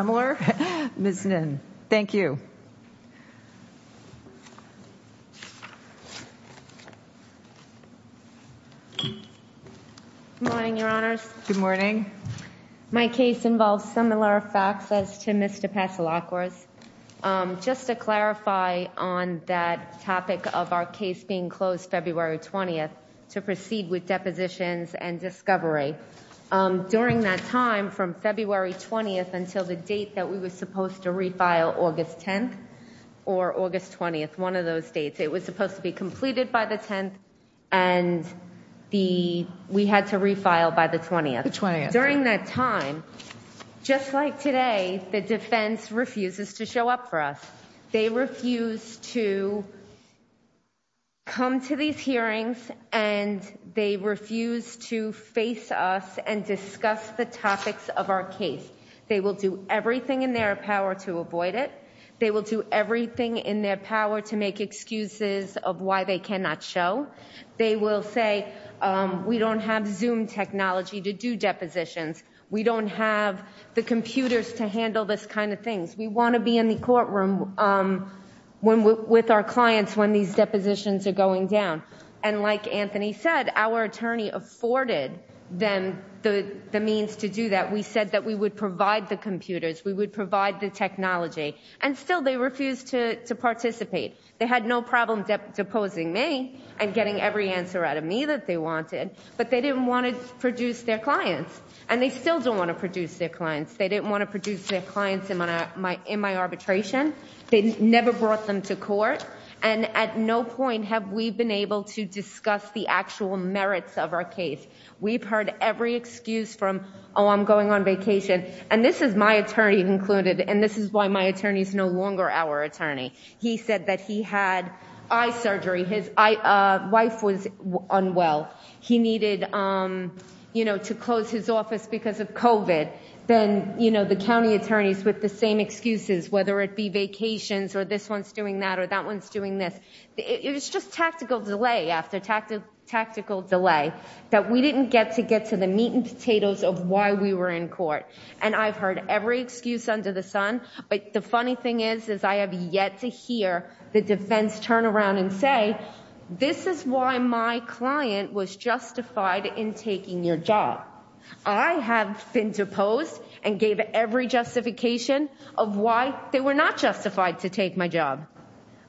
Good morning, your honors. Good morning. My case involves similar facts as to Ms. DePazalacuas. Just to clarify on that topic of our case being closed February 20th, to proceed with the hearing, there was a date that we were supposed to refile August 10th or August 20th, one of those dates. It was supposed to be completed by the 10th, and we had to refile by the 20th. During that time, just like today, the defense refuses to show up for us. They refuse to come to these hearings, and they refuse to face us and discuss the topics of our case. They will do everything in their power to avoid it. They will do everything in their power to make excuses of why they cannot show. They will say, we don't have Zoom technology to do depositions. We don't have the computers to handle this kind of thing. We want to be in the courtroom with our clients when these depositions are going down. And like Anthony said, our attorney afforded them the means to do that. We said that we would provide the computers, we would provide the technology, and still they refuse to participate. They had no problem deposing me and getting every answer out of me that they wanted, but they didn't want to produce their clients. And they still don't want to produce their clients. They didn't want to produce their clients in my arbitration. They never brought them to court, and at no point have we been able to discuss the actual merits of our case. We've heard every excuse from, oh, I'm going on vacation, and this is my attorney included, and this is why my attorney is no longer our attorney. He said that he had eye surgery. His wife was unwell. He needed, you know, to close his office because of COVID. Then, you know, the county attorneys with the same excuses, whether it be vacations or this one's doing that or that one's doing this. It was just tactical delay after tactical delay that we didn't get to get to the meat and potatoes of why we were in court. And I've heard every excuse under the sun, but the funny thing is, is I have yet to hear the defense turn around and say, this is why my client was justified in taking your job. I have been deposed and gave every justification of why they were not justified to take my job.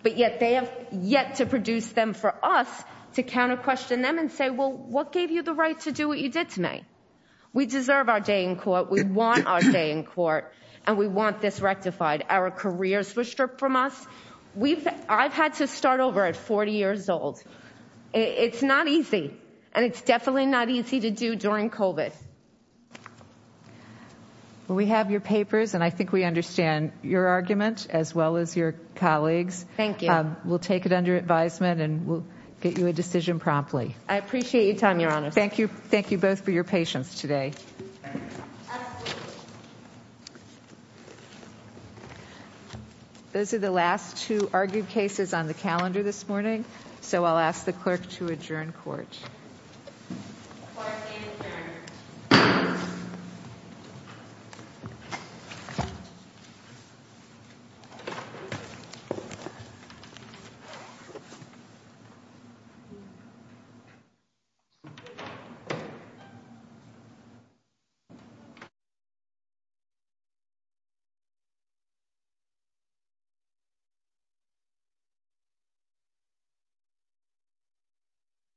But yet they have yet to produce them for us to counter question them and say, well, what gave you the right to do what you did to me? We deserve our day in court. We want our day in court and we want this rectified. Our careers were stripped from us. We've I've had to start over at 40 years old. It's not easy and it's definitely not easy to do during COVID. Well, we have your papers and I think we understand your argument as well as your colleagues. Thank you. We'll take it under advisement and we'll get you a decision promptly. I appreciate your time, Your Honor. Thank you. Thank you both for your patience today. Those are the last two argued cases on the calendar this morning, so I'll ask the clerk to adjourn court. Thank you.